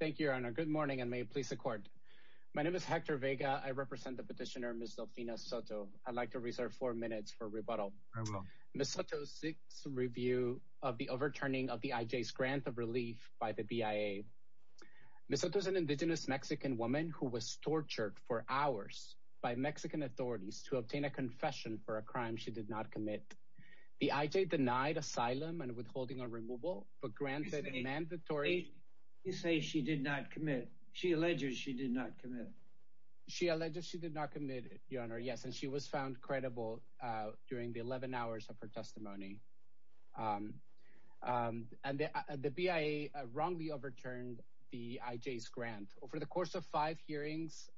Thank you, your honor. Good morning and may it please the court. My name is Hector Vega. I represent the petitioner Ms. Delfina Soto. I'd like to reserve four minutes for rebuttal. Ms. Soto seeks review of the overturning of the IJ's grant of relief by the BIA. Ms. Soto is an indigenous Mexican woman who was tortured for hours by Mexican authorities to obtain a confession for a crime she did not commit. The IJ denied asylum and withholding but granted mandatory... You say she did not commit. She alleges she did not commit. She alleges she did not commit, your honor, yes, and she was found credible during the 11 hours of her testimony. And the BIA wrongly overturned the IJ's grant. Over the course of five hearings,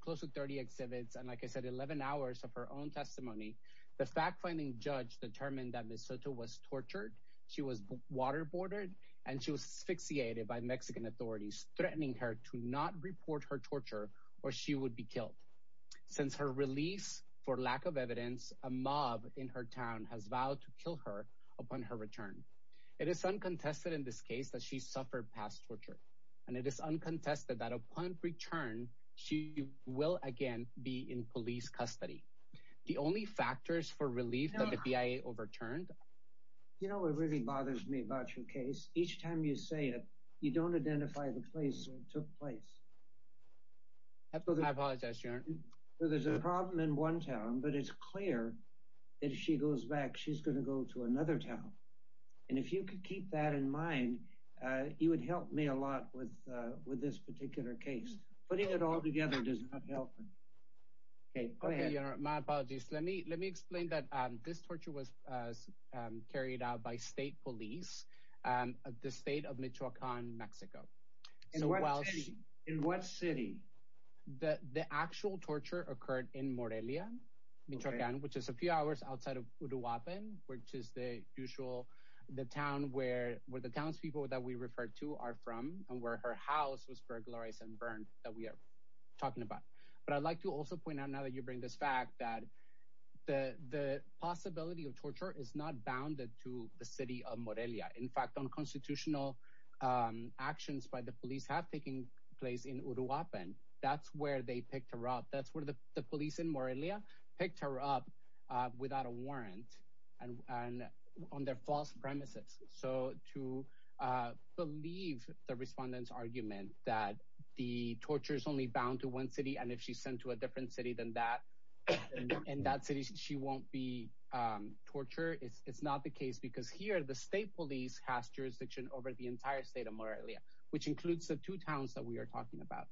close to 30 exhibits, and like I said, 11 hours of her own testimony, she was waterboarded and she was asphyxiated by Mexican authorities, threatening her to not report her torture or she would be killed. Since her release, for lack of evidence, a mob in her town has vowed to kill her upon her return. It is uncontested in this case that she suffered past torture. And it is uncontested that upon return, she will again be in police custody. The only factors for relief that the BIA overturned... You know what really bothers me about your case? Each time you say it, you don't identify the place where it took place. I apologize, your honor. So there's a problem in one town, but it's clear that if she goes back, she's going to go to another town. And if you could keep that in mind, you would help me a lot with this particular case. Putting it all together does not help. Okay, go ahead. My apologies. Let me explain that this torture was carried out by state police at the state of Michoacan, Mexico. In what city? The actual torture occurred in Morelia, Michoacan, which is a few hours outside of Uruapan, which is the town where the townspeople that we referred to are from and where her house was burglarized and burned that we are talking about. But I'd like to also point out now that this fact that the possibility of torture is not bounded to the city of Morelia. In fact, unconstitutional actions by the police have taken place in Uruapan. That's where they picked her up. That's where the police in Morelia picked her up without a warrant on their false premises. So to believe the respondent's argument that the torture is bound to one city and if she's sent to a different city than that, in that city she won't be tortured, it's not the case because here the state police has jurisdiction over the entire state of Morelia, which includes the two towns that we are talking about.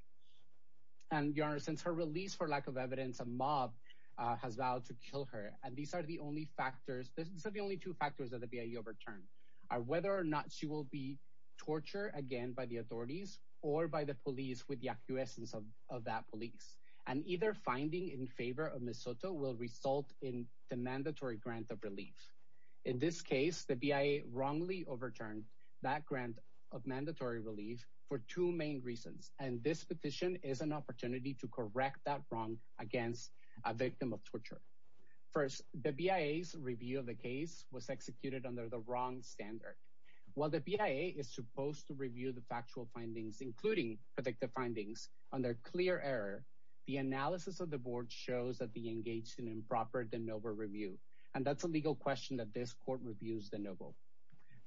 And your honor, since her release for lack of evidence, a mob has vowed to kill her. And these are the only factors, these are the only two factors that the BIE overturned, whether or not she will be tortured again by the authorities or by the police with the of that police. And either finding in favor of Ms. Soto will result in the mandatory grant of relief. In this case, the BIE wrongly overturned that grant of mandatory relief for two main reasons. And this petition is an opportunity to correct that wrong against a victim of torture. First, the BIE's review of the case was executed under the wrong standard. While the BIE is predictive findings under clear error, the analysis of the board shows that they engaged in improper de novo review. And that's a legal question that this court reviews de novo.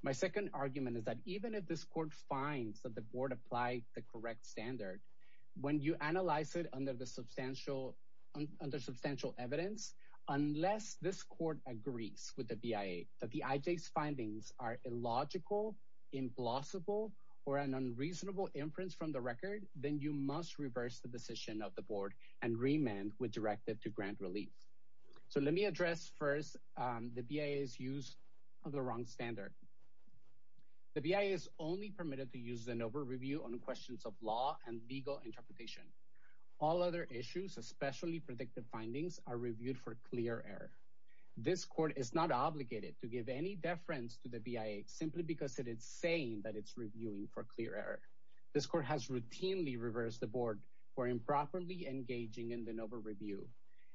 My second argument is that even if this court finds that the board applied the correct standard, when you analyze it under the substantial, under substantial evidence, unless this court agrees with the BIE that the IJ's findings are illogical, implausible, or an unreasonable inference from the record, then you must reverse the decision of the board and remand with directive to grant relief. So let me address first the BIE's use of the wrong standard. The BIE is only permitted to use de novo review on questions of law and legal interpretation. All other issues, especially predictive findings, are reviewed for clear error. This court is not obligated to give any deference to the BIE simply because it is saying that it's reviewing for clear error. This court has routinely reversed the board for improperly engaging in de novo review.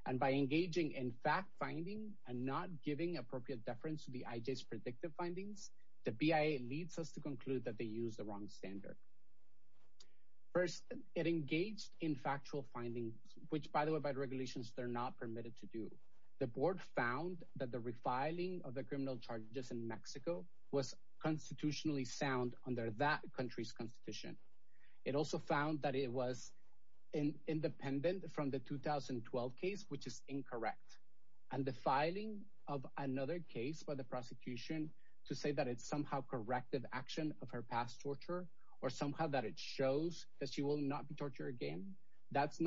And by engaging in fact finding and not giving appropriate deference to the IJ's predictive findings, the BIE leads us to conclude that they use the wrong standard. First, it engaged in by the regulations they're not permitted to do. The board found that the refiling of the criminal charges in Mexico was constitutionally sound under that country's constitution. It also found that it was independent from the 2012 case, which is incorrect. And the filing of another case by the prosecution to say that it's somehow corrective action of her past torture, or somehow that it that's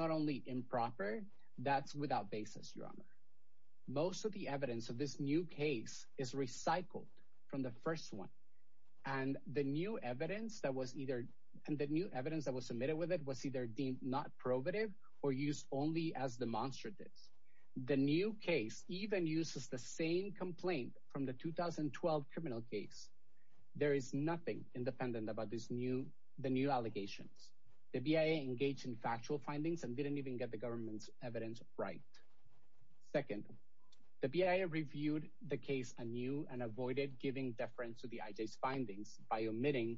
without basis, your honor. Most of the evidence of this new case is recycled from the first one. And the new evidence that was either and the new evidence that was submitted with it was either deemed not probative or used only as demonstratives. The new case even uses the same complaint from the 2012 criminal case. There is nothing independent about this new the new evidence right. Second, the BIA reviewed the case anew and avoided giving deference to the IJ's findings by omitting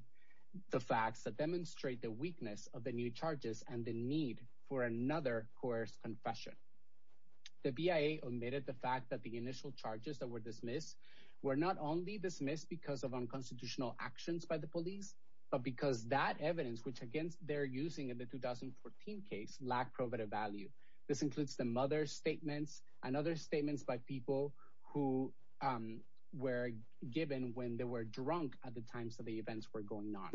the facts that demonstrate the weakness of the new charges and the need for another coerced confession. The BIA omitted the fact that the initial charges that were dismissed were not only dismissed because of unconstitutional actions by the police, but because that evidence which against they're using in the 2014 case lack probative value. This includes the mother's statements and other statements by people who were given when they were drunk at the times of the events were going on.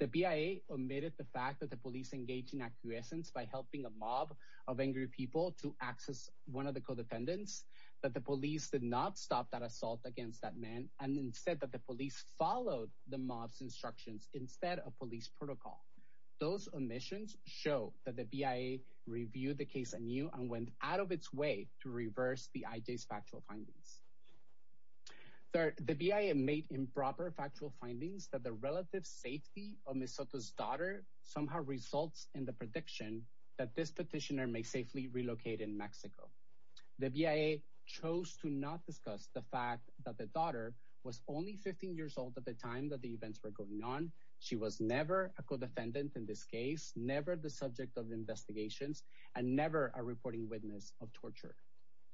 The BIA omitted the fact that the police engaged in acquiescence by helping a mob of angry people to access one of the codependents, that the police did not stop that assault against that man, and instead that the police followed the mob's instructions instead of police protocol. Those omissions show that the BIA reviewed the case anew and went out of its way to reverse the IJ's factual findings. Third, the BIA made improper factual findings that the relative safety of Ms. Soto's daughter somehow results in the prediction that this petitioner may safely relocate in Mexico. The BIA chose to not discuss the fact that the daughter was only 15 years old at the time that the events were going on. She was never a codependent in this case, never the subject of investigations, and never a reporting witness of torture.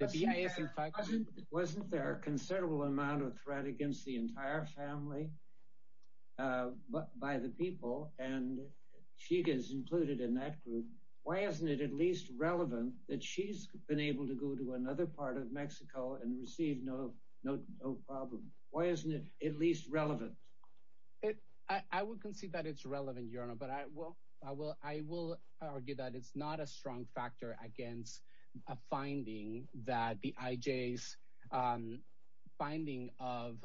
The BIA is in fact... Wasn't there a considerable amount of threat against the entire family by the people? And she is included in that group. Why isn't it at least relevant that she's been able to go to another part of Mexico and receive no problem? Why isn't it at least relevant? I would concede that it's relevant, your honor, but I will argue that it's not a strong factor against a finding that the IJ's finding of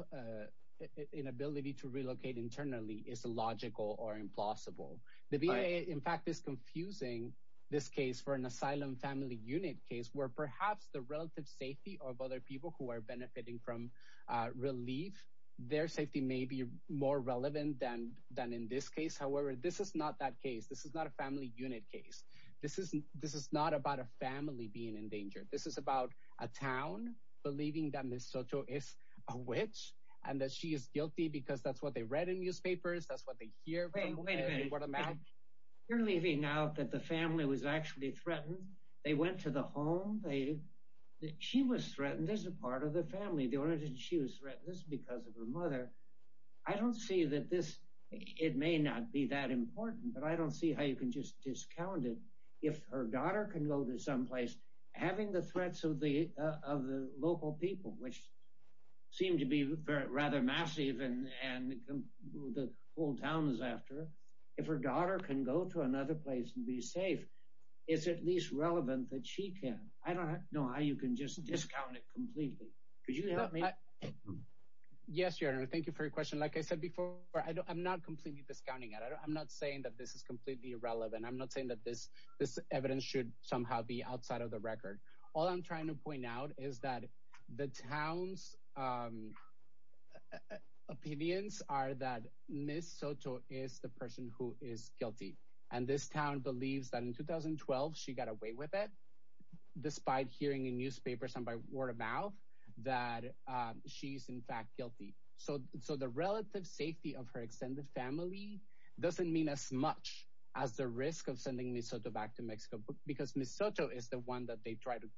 inability to relocate internally is illogical or implausible. The BIA in fact is confusing this case for an asylum family unit case where perhaps the relative safety of other people who are benefiting from relief, their safety may be more relevant than in this case. However, this is not that case. This is not a family unit case. This is not about a family being in danger. This is about a town believing that Ms. Soto is a witch and that she is guilty because that's what they read in newspapers. That's what they hear. Wait a minute. You're leaving out that the family was actually threatened. They went to the home. She was threatened as a part of the family. The only reason she was threatened is because of her mother. I don't see that this... It may not be that important, but I don't see how you can just discount it. If her daughter can go to someplace having the whole town is after, if her daughter can go to another place and be safe, it's at least relevant that she can. I don't know how you can just discount it completely. Could you help me? Yes, your honor. Thank you for your question. Like I said before, I'm not completely discounting it. I'm not saying that this is completely irrelevant. I'm not saying that this evidence should somehow be outside of the record. All I'm trying to point out is that the town's opinions are that Ms. Soto is the person who is guilty. This town believes that in 2012, she got away with it despite hearing in newspapers and by word of mouth that she's in fact guilty. The relative safety of her extended family doesn't mean as much as the risk of sending Ms. Soto back to Mexico because Ms. Soto is the one that they try to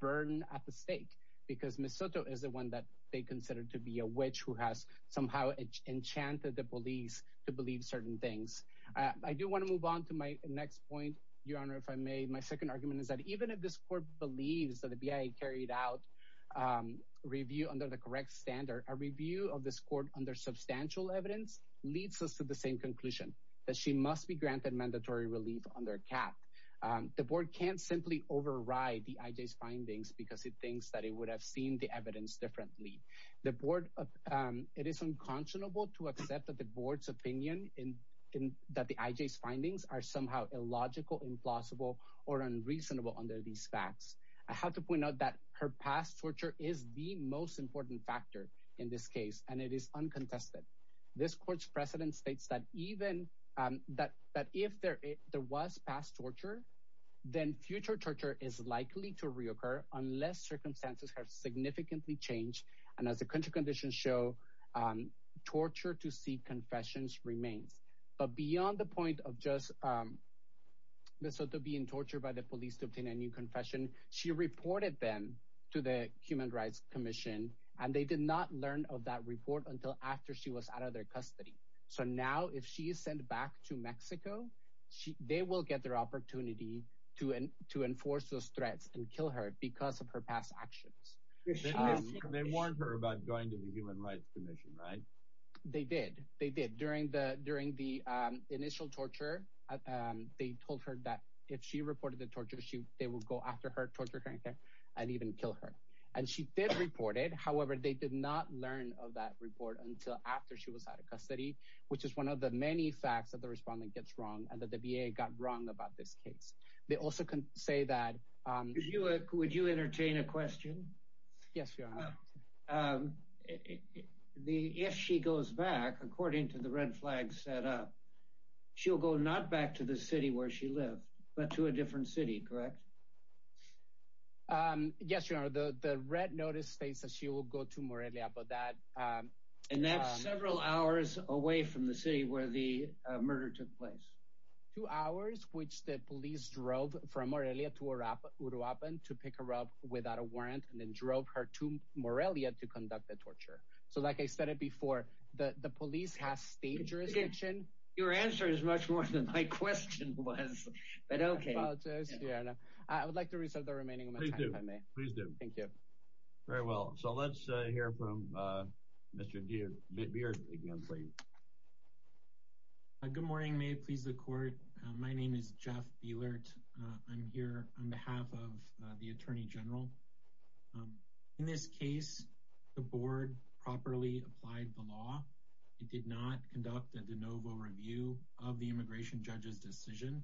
burn at the stake because Ms. Soto is the one that they consider to be a witch who has somehow enchanted the police to believe certain things. I do want to move on to my next point, your honor, if I may. My second argument is that even if this court believes that the BIA carried out review under the correct standard, a review of this court under substantial evidence leads us to the same conclusion that she must be granted mandatory relief under CAP. The board can't simply override the IJ's because it thinks that it would have seen the evidence differently. The board, it is unconscionable to accept that the board's opinion in that the IJ's findings are somehow illogical, implausible, or unreasonable under these facts. I have to point out that her past torture is the most important factor in this case and it is uncontested. This court's precedent states that even that if there was past torture, then future torture is likely to reoccur unless circumstances have significantly changed. And as the country conditions show, torture to seek confessions remains. But beyond the point of just Ms. Soto being tortured by the police to obtain a new confession, she reported them to the Human Rights Commission and they did not learn of that report until after she was out of their custody. So now, if she is sent back to Mexico, they will get their opportunity to enforce those threats and kill her because of her past actions. They warned her about going to the Human Rights Commission, right? They did. They did. During the initial torture, they told her that if she reported the torture, they would go after her, torture her, and even kill her. And she did report it. However, they did not learn of that report until after she was out of custody, which is one of the many facts that the respondent gets wrong and that the VA got wrong about this case. They also can say that... Would you entertain a question? Yes, Your Honor. If she goes back, according to the red flag set up, she'll go not back to the city where she lived, but to a different city, correct? Yes, Your Honor. The red notice states that she will go to Morelia, but that... And that's several hours away from the city where the murder took place. Two hours, which the police drove from Morelia to Uruapan to pick her up without a warrant and then drove her to Morelia to conduct the torture. So like I said it before, the police has state jurisdiction. Your answer is much more than my question was, but okay. I would like to reserve the remaining of my time, if I may. Please do. Thank you. Very well. So let's hear from Mr. Beilert again, please. Good morning. May it please the court. My name is Jeff Beilert. I'm here on behalf of the Attorney General. In this case, the board properly applied the law. It did not conduct a de novo review of the immigration judge's decision.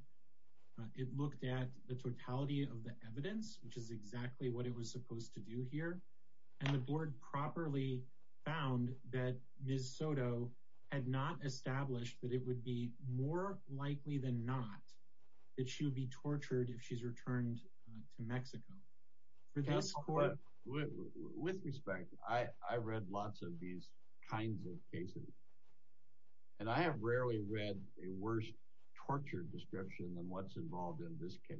It looked at the totality of the evidence, which is exactly what it was supposed to do here. And the board properly found that Ms. Soto had not established that it would be more likely than not that she would be tortured if she's returned to Mexico. With respect, I read lots of these kinds of cases. And I have rarely read a worse torture description than what's involved in this case.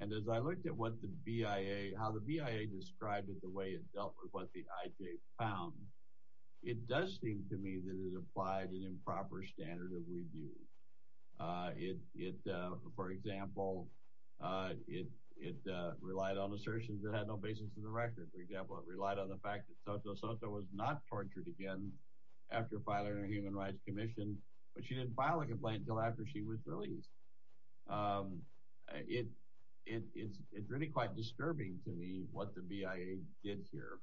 And as I looked at what the BIA, how the BIA described it, the way it dealt with what the IJ found, it does seem to me that it applied an improper standard of review. For example, it relied on assertions that had no basis in the record. For example, it relied on the fact that Soto Soto was not tortured again after filing her human rights commission, but she didn't file a complaint until after she was released. It's really quite disturbing to me what the BIA did here.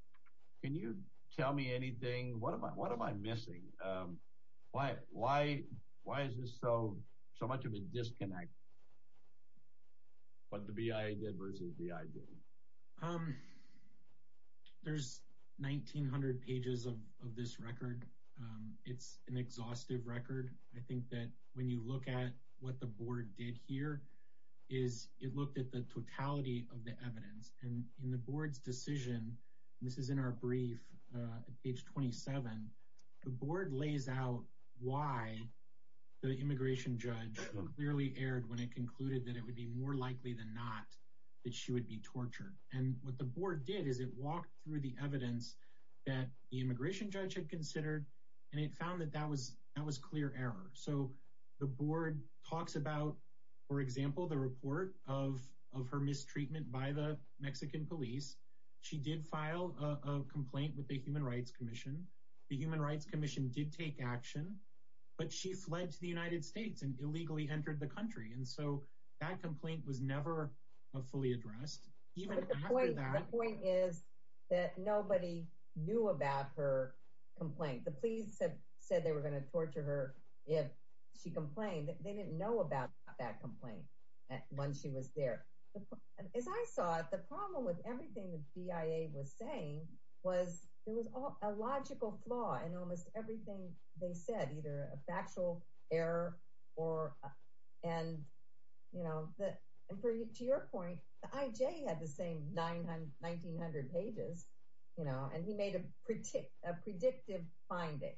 Can you tell me anything? What am I missing? Why is this so much of a disconnect, what the BIA did versus the IJ? There's 1,900 pages of this record. It's an exhaustive record. I think that when you look at what the board did here is it looked at the totality of the evidence. And in the board's decision, this is in our brief, page 27, the board lays out why the immigration judge clearly erred when it concluded that it would be more likely than not that she would be tortured. And what the board did is it walked through the evidence that the immigration judge had considered, and it found that that was clear error. So the board talks about, for example, the report of her mistreatment by the Mexican police. She did file a complaint with the human rights commission. The human rights commission did take action, but she fled to the United States and illegally entered the country. And so that complaint was never fully addressed. The point is that nobody knew about her complaint. The police had said they were going to torture her if she complained. They didn't know about that complaint when she was there. As I saw it, the problem with everything the BIA was saying was there was a logical flaw in almost everything they said, either a factual error. And to your point, the IJ had the same 1,900 pages, and he made a predictive finding.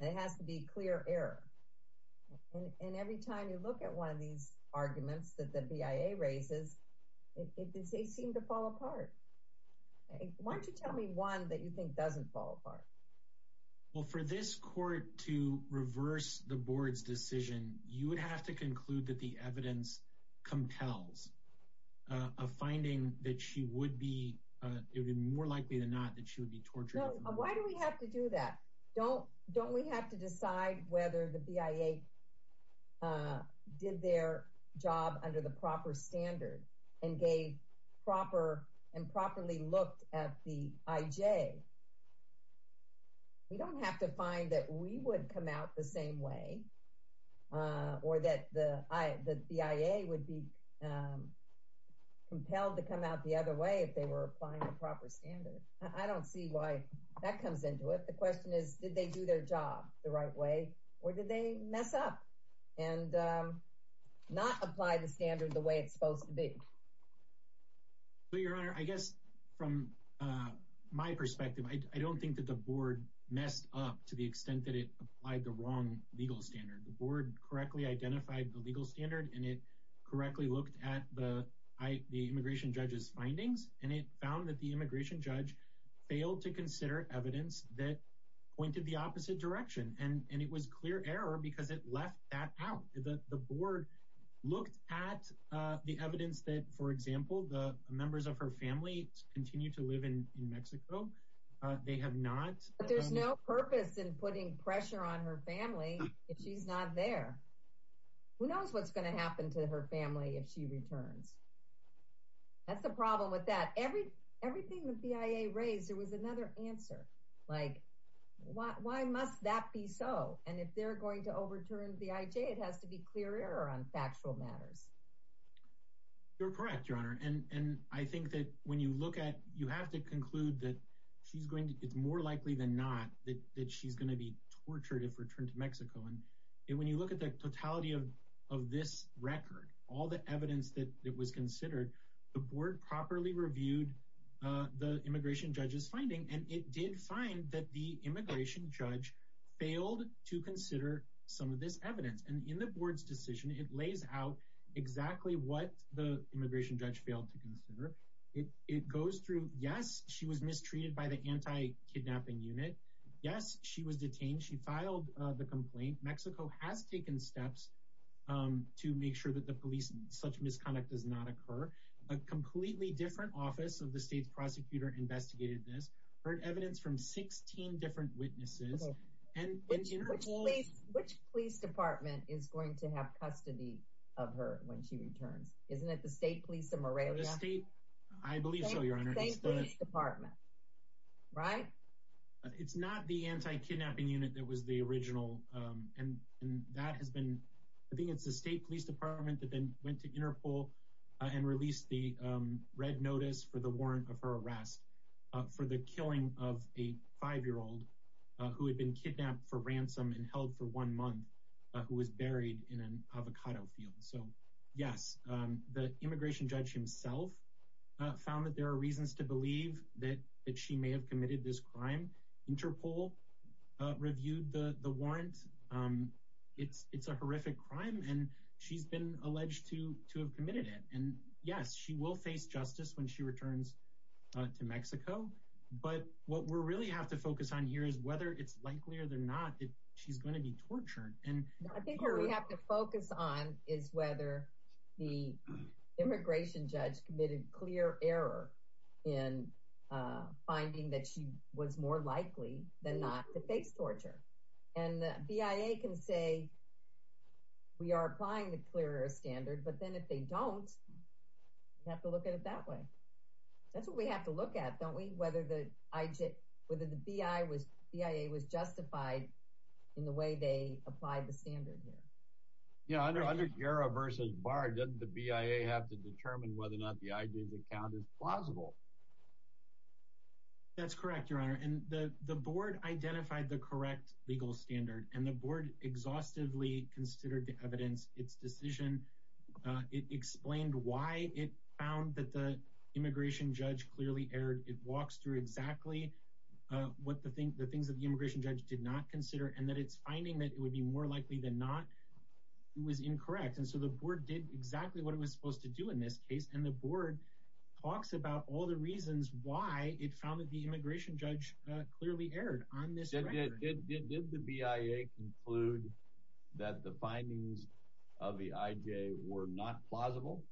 It has to be clear error. And every time you look at one of these arguments that the BIA raises, they seem to fall apart. Why don't you tell me that you think doesn't fall apart? Well, for this court to reverse the board's decision, you would have to conclude that the evidence compels a finding that it would be more likely than not that she would be tortured. Why do we have to do that? Don't we have to decide whether the BIA did their job under the proper standard and gave proper and properly looked at the IJ? We don't have to find that we would come out the same way or that the BIA would be compelled to come out the other way if they were applying the proper standard. I don't see why that comes into it. The question is, did they do their job the right way? Or did they mess up and not apply the standard the way it's supposed to be? Your Honor, I guess from my perspective, I don't think that the board messed up to the extent that it applied the wrong legal standard. The board correctly identified the legal standard and it correctly looked at the immigration judge's findings. And it found that the immigration judge failed to consider evidence that pointed the opposite direction. And it was clear error because it left that out. The board looked at the evidence that, for example, the members of her family continue to live in Mexico. They have not. But there's no purpose in putting pressure on her family if she's not there. Who knows what's going to happen to her family if she returns? That's the problem with that. Everything the BIA raised, there was another answer. Like, why must that be so? And if they're going to overturn BIJ, it has to be clear error on factual matters. You're correct, Your Honor. And I think that when you look at, you have to conclude that it's more likely than not that she's going to be tortured if returned to Mexico. And when you look at the totality of this record, all the evidence that was considered, the board properly reviewed the immigration judge's finding and it did find that the immigration judge failed to consider some of this evidence. And in the board's decision, it lays out exactly what the immigration judge failed to consider. It goes through, yes, she was mistreated by the anti-kidnapping unit. Yes, she was detained. She filed the complaint. Mexico has taken steps to make sure that such misconduct does not occur. A completely different office of the state's prosecutor investigated this. Heard evidence from 16 different witnesses. Okay. Which police department is going to have custody of her when she returns? Isn't it the state police of Morelia? The state, I believe so, Your Honor. The state police department, right? It's not the anti-kidnapping unit that was the original. And that has been, I think it's the state police department that then went to Interpol and released the red notice for the warrant of her arrest for the killing of a five-year-old who had been kidnapped for ransom and held for one month, who was buried in an avocado field. So yes, the immigration judge himself found that there are reasons to believe that she may have committed this crime. Interpol reviewed the warrant. It's a horrific crime, and she's been alleged to have committed it. And yes, she will face justice when she returns to Mexico. But what we really have to focus on here is whether it's likely or they're not that she's going to be tortured. I think what we have to focus on is whether the immigration judge committed clear error in finding that she was more likely than not to face torture. And the BIA can say, we are applying the clear error standard. But then if they don't, we have to look at it that way. That's what we have to look at, don't we? Whether the BIA was justified in the way they applied the standard here. Yeah, under GERA versus BAR, doesn't the BIA have to determine whether or not the ID's account is plausible? That's correct, your honor. And the board identified the correct legal standard, and the board exhaustively considered the evidence. Its decision, it explained why it found that the immigration judge clearly erred. It walks through exactly what the things that the immigration judge did not consider, and that it's finding that it would be more likely than not it was incorrect. And so the board did exactly what it was supposed to do in this case, and the board talks about all the reasons why it found that the immigration judge clearly erred on this record. Did the BIA conclude that the findings of the IJ were not plausible?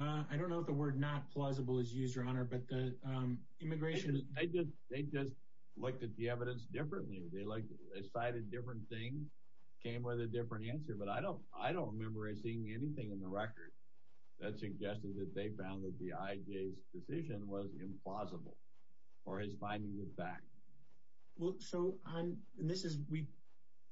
I don't know if the word not plausible is used, your honor, but the immigration... They just looked at the evidence differently. They cited different things, came with a different answer, but I don't I don't remember seeing anything in the record that suggested that they found that the IJ's decision was implausible, or is finding it back. Well, so I'm, and this is, we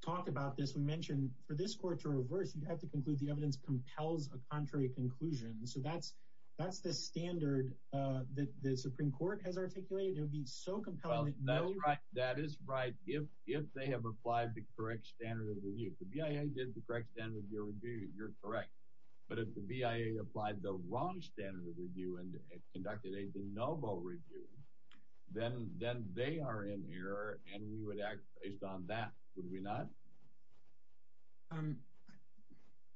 talked about this, we mentioned for this court to reverse, you'd have to conclude the evidence compels a contrary conclusion. So that's, that's the standard that the Supreme Court has articulated. It would be so compelling. That's right, that is right. If, if they have applied the correct standard of review, the BIA did the correct standard of review, you're correct. But if the BIA applied the wrong standard of review and conducted a de novo review, then then they are in error, and we would act based on that, would we not? Um,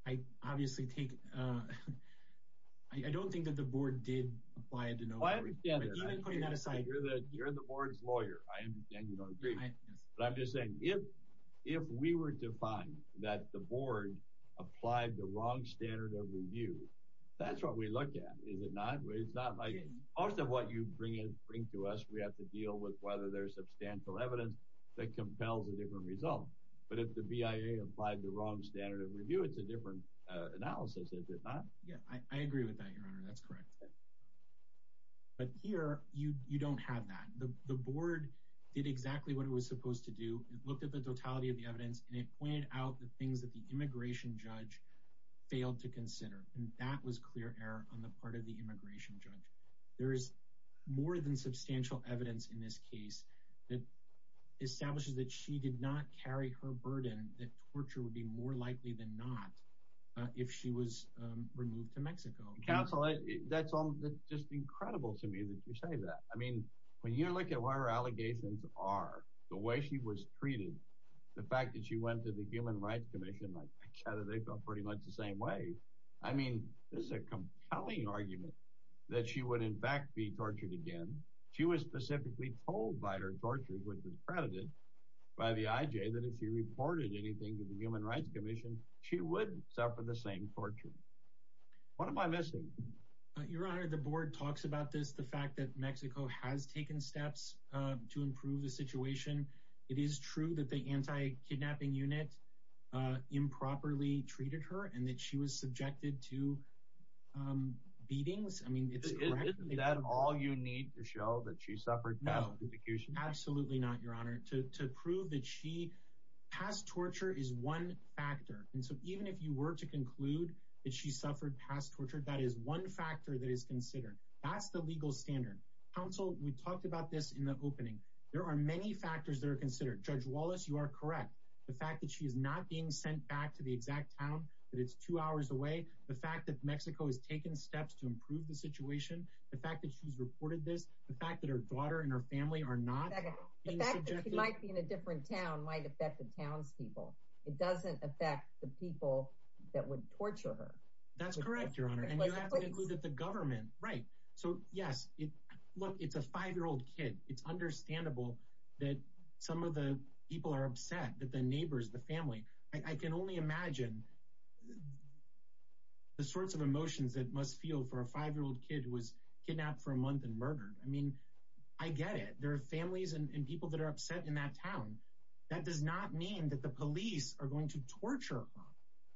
I obviously take, uh, I don't think that the board did apply a de novo review. I understand that. But even putting that aside... You're the, you're the board's lawyer. I understand you don't agree. But I'm just saying, if, if we were to find that the board applied the wrong standard of review, that's what we look at, is it not? It's not like, most of what you bring in, bring to us, we have to deal with whether there's substantial evidence that compels a different result. But if the BIA applied the wrong standard of review, it's a different analysis, is it not? Yeah, I agree with that, your honor, that's correct. But here, you, you don't have that. The, the board did exactly what it was supposed to do. It looked at the totality of the evidence, and it pointed out the things that the immigration judge failed to consider, and that was clear error on the part of the immigration judge. There is more than substantial evidence in this case that establishes that she did not carry her burden, that torture would be more likely than not, if she was removed to Mexico. Counsel, that's all, that's just incredible to me that you say that. I mean, when you look at what her allegations are, the way she was treated, the fact that she went to the Human Rights Commission, like I chatted, they felt pretty much the same way. I mean, this is a compelling argument, that she would in fact be tortured again. She was specifically told by her torturer, who was discredited by the IJ, that if she reported anything to the Human Rights Commission, she would suffer the same torture. What am I missing? Your honor, the board talks about this, the fact that Mexico has taken steps to improve the situation. It is true that the anti-kidnapping unit improperly treated her, and that she was subjected to beatings. I mean, isn't that all you need to show that she suffered? Absolutely not, your honor. To prove that she, past torture is one factor, and so even if you were to conclude that she suffered past torture, that is one factor that is considered. That's the legal standard. Counsel, we talked about this in the opening. There are many factors that are considered. Judge Wallace, you are correct. The fact that she is not being sent back to the exact town, that it's two hours away. The fact that Mexico has taken steps to improve the situation. The fact that she's reported this. The fact that her daughter and her family are not being subjected. The fact that she might be in a different town might affect the townspeople. It doesn't affect the people that would torture her. That's correct, your honor. And you have to include the government. Right. So yes, look, it's a five-year-old kid. It's understandable that some of the people are upset, that the neighbors, the family. I can only imagine the sorts of emotions that must feel for a five-year-old kid who was kidnapped for a month and murdered. I mean, I get it. There are families and people that are upset in that town. That does not mean that the police are going to torture her.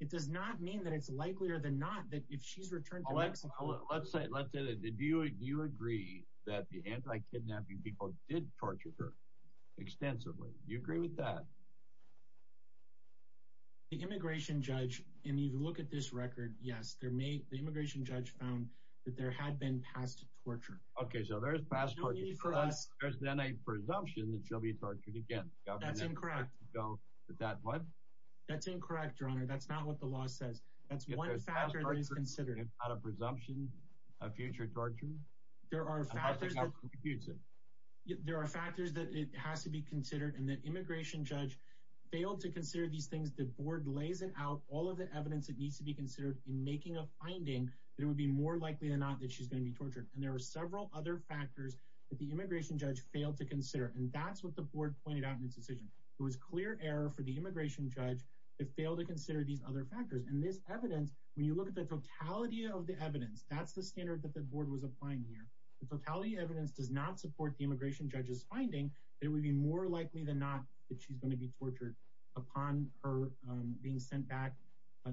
It does not mean that it's likelier than not that if she's returned to Mexico. Let's say, do you agree that the anti-kidnapping people did torture her extensively? Do you agree with that? The immigration judge, and you look at this record, yes, the immigration judge found that there had been past torture. Okay, so there's past torture. There's then a presumption that she'll be tortured again. That's incorrect. That's incorrect, your honor. That's not what the law says. That's one factor that is considered. If there's past torture and not a presumption of future torture? There are factors that it has to be considered. And the immigration judge failed to consider these things. The board lays it out, all of the evidence that needs to be considered in making a finding that it would be more likely than not that she's going to be tortured. And there are several other factors that the immigration judge failed to consider, and that's what the board pointed out in its decision. It was clear error for the immigration judge to fail to consider these other factors. And this evidence, when you look at the totality of the evidence, that's the standard that the board was applying here. The totality of evidence does not support the immigration judge's finding that it would be more likely than not that she's tortured upon her being sent back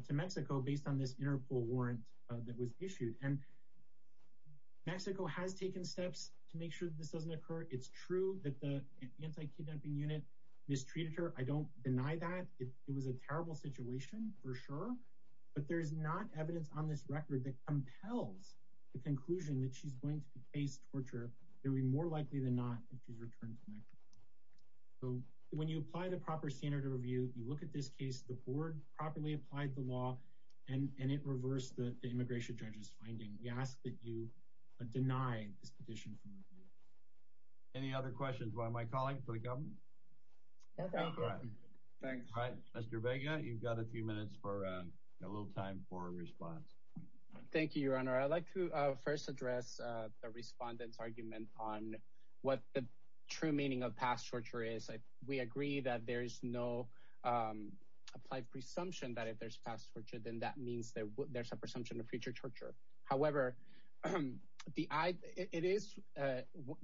to Mexico based on this Interpol warrant that was issued. And Mexico has taken steps to make sure that this doesn't occur. It's true that the anti-kidnapping unit mistreated her. I don't deny that. It was a terrible situation for sure. But there's not evidence on this record that compels the conclusion that she's going to face torture. It would be more likely than not if she's returned to Mexico. So when you apply the proper standard of review, you look at this case, the board properly applied the law, and it reversed the immigration judge's finding. We ask that you deny this petition from review. Any other questions by my colleague for the government? No, thank you. All right, Mr. Vega, you've got a few minutes for a little time for a response. Thank you, Your Honor. I'd like to first address the respondents' argument on what the true meaning of past torture is. We agree that there's no applied presumption that if there's past torture, then that means that there's a presumption of future torture. However, it is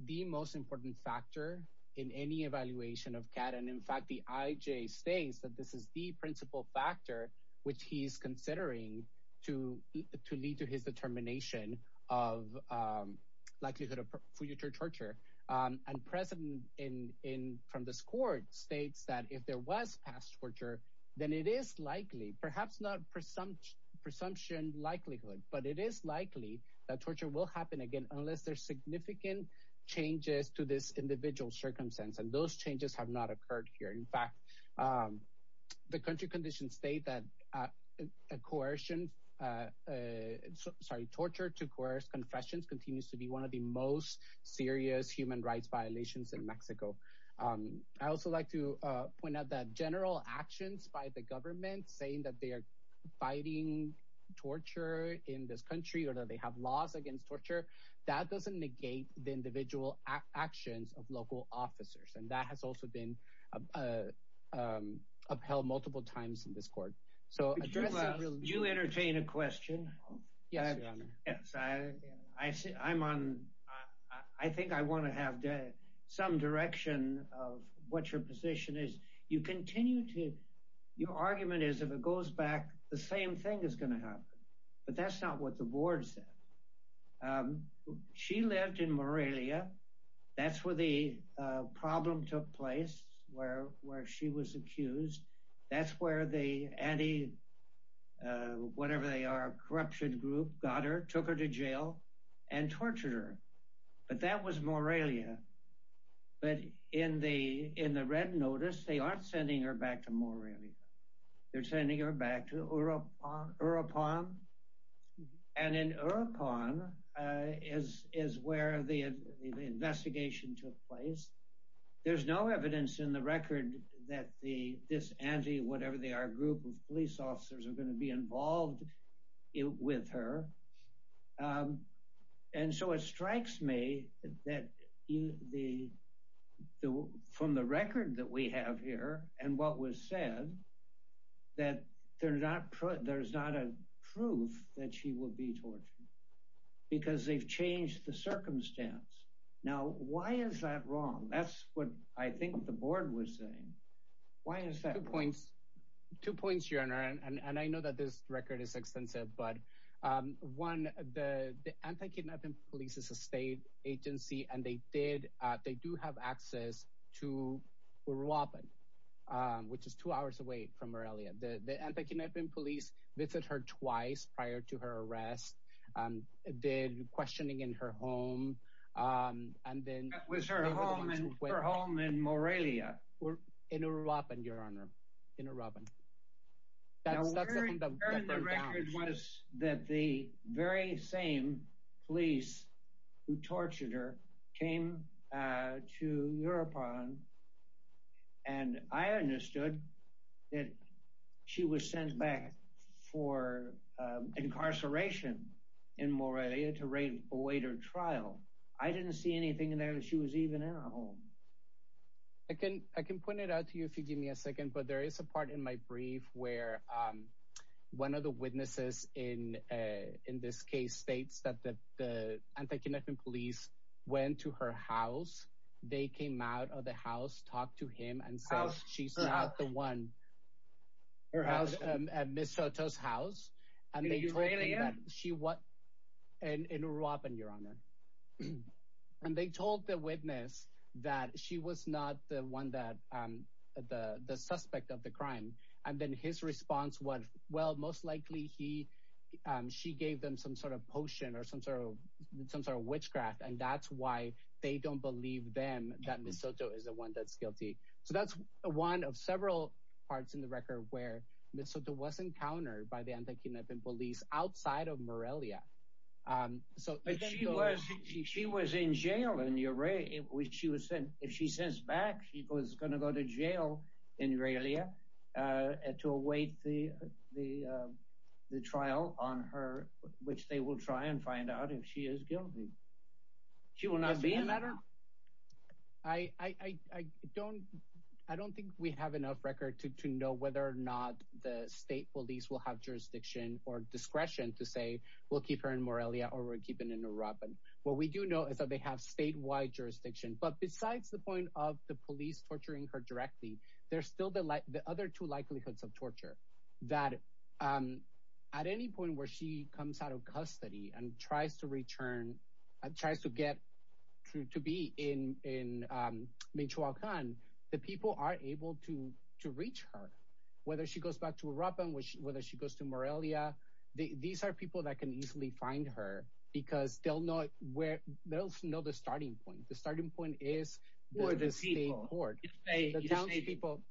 the most important factor in any evaluation of CAD, and in fact, the IJ states that this is the principal factor which he's considering to lead to his determination of likelihood of future torture. And President from this court states that if there was past torture, then it is likely, perhaps not presumption likelihood, but it is likely that torture will happen again unless there's significant changes to this individual's circumstance, and those changes have not occurred here. In fact, the country conditions state that coercion, sorry, torture to coerce confessions continues to be one of the most serious human rights violations in Mexico. I also like to point out that general actions by the government saying that they are fighting torture in this country or that they have laws against torture, that doesn't negate the individual actions of local officers, and that has also been upheld multiple times in this court. So address the real... Could you entertain a question? Yes, your honor. Yes, I'm on, I think I want to have some direction of what your position is. You continue to, your argument is if it goes back, the same thing is going to happen, but that's not what the board said. She lived in Morelia. That's where the problem took place, where she was accused. That's where the anti-whatever-they-are corruption group got her, took her to jail, and tortured her, but that was Morelia. But in the red notice, they aren't sending her back to Morelia. They're sending her back to Urupan, and in Urupan is where the investigation took place. There's no evidence in the record that this anti-whatever-they-are group of police officers are going to be involved with her. And so it strikes me that from the record that we have here and what was said, that there's not a proof that she will be tortured because they've changed the circumstance. Now, why is that wrong? That's what I think the board was saying. Why is that wrong? Two points, your honor, and I know that this record is extensive, but one, the anti-kidnapping police is a state agency, and they do have access to Urupan, which is two hours away from Morelia. The anti-kidnapping police visited her twice prior to her arrest, did questioning in her home, and then... That was her home in Morelia. In Urupan, your honor, in Urupan. Now, what I heard in the record was that the very same police who tortured her came to Urupan, and I understood that she was sent back for incarceration in Morelia to await her trial. I didn't see anything in there that she was even in her home. I can point it out to you if you give me a second, but there is a part in my brief where one of the witnesses in this case states that the anti-kidnapping police went to her house. They came out of the house, talked to him, and says she's not the one at Ms. Soto's house, and they told the witness that she was not the suspect of the crime, and then his response was, well, most likely she gave them some sort of potion or some sort of witchcraft, and that's why they don't believe them that Ms. Soto is the one that's guilty. So, that's one of several parts in the record where Ms. Soto was encountered by anti-kidnapping police outside of Morelia. She was in jail in Urupan. If she says back she was going to go to jail in Morelia to await the trial on her, which they will try and find out if she is guilty. She will not be a matter? I don't think we have enough record to know whether or not the state police will have jurisdiction or discretion to say we'll keep her in Morelia or we're keeping her in Urupan. What we do know is that they have statewide jurisdiction, but besides the point of the police torturing her directly, there's still the other two likelihoods of torture, that at any point where she comes out of custody and tries to get to be in Michoacan, the people are able to reach her, whether she goes back to Urupan, whether she goes to Morelia. These are people that can easily find her because they'll know the starting point. The starting point is the state court. The townspeople.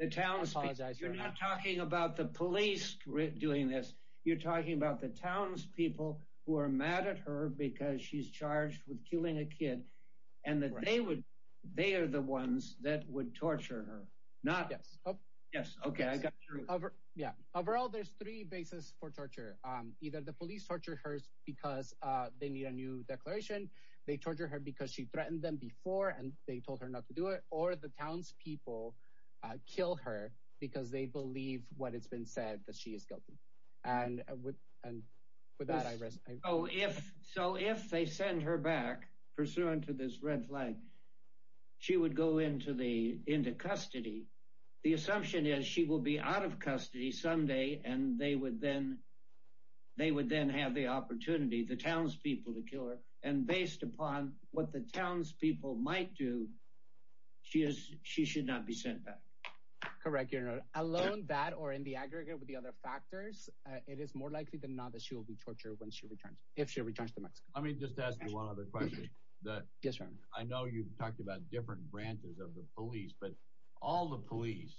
The townspeople. You're not talking about the police doing this. You're talking about the townspeople who are mad at her because she's charged with killing a kid and that they would, they are the ones that would torture her. Yes. Okay. Yeah. Overall, there's three bases for torture. Either the police torture her because they need a new declaration. They torture her because she threatened them before and they told her not to or the townspeople kill her because they believe what has been said that she is guilty. And with that, I rest my case. So if they send her back pursuant to this red flag, she would go into custody. The assumption is she will be out of custody someday and they would then have the opportunity, the townspeople to kill her. And based upon what the townspeople might do, she is, she should not be sent back. Correct. Alone that or in the aggregate with the other factors, it is more likely than not that she will be tortured when she returns. If she returns to Mexico. Let me just ask you one other question. I know you've talked about different branches of the police, but all the police,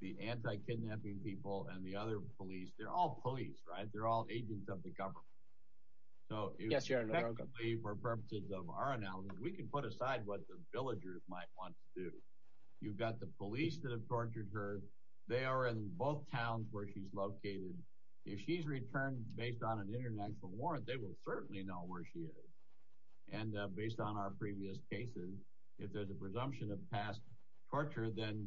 the anti-kidnapping people and the other police, they're all police, right? They're all agents of the government. So for purposes of our analysis, we can put aside what the villagers might want to do. You've got the police that have tortured her. They are in both towns where she's located. If she's returned based on an international warrant, they will certainly know where she is. And based on our previous cases, if there's a presumption of past torture, then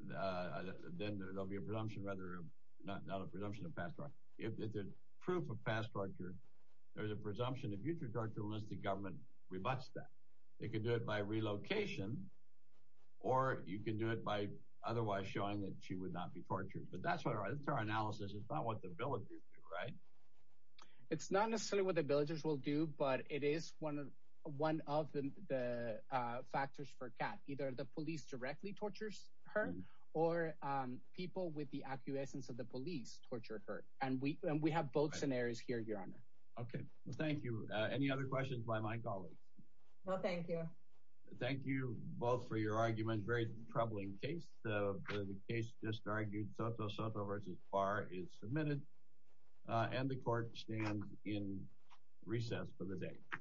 there will be a presumption rather than a presumption of past torture. If there's proof of past torture, there's a presumption of future torture unless the government rebuts that. They can do it by relocation or you can do it by otherwise showing that she would not be tortured. But that's what our analysis is about what the villagers do, right? It's not necessarily what the villagers will do, but it is one of the factors for CAT. Either the police directly tortures her or people with the acquiescence of the police torture her. And we have both scenarios here, Your Honor. Okay. Well, thank you. Any other questions by my colleagues? No, thank you. Thank you both for your arguments. Very troubling case. The case just argued Soto Soto v. Barr is submitted and the court stands in recess for the day.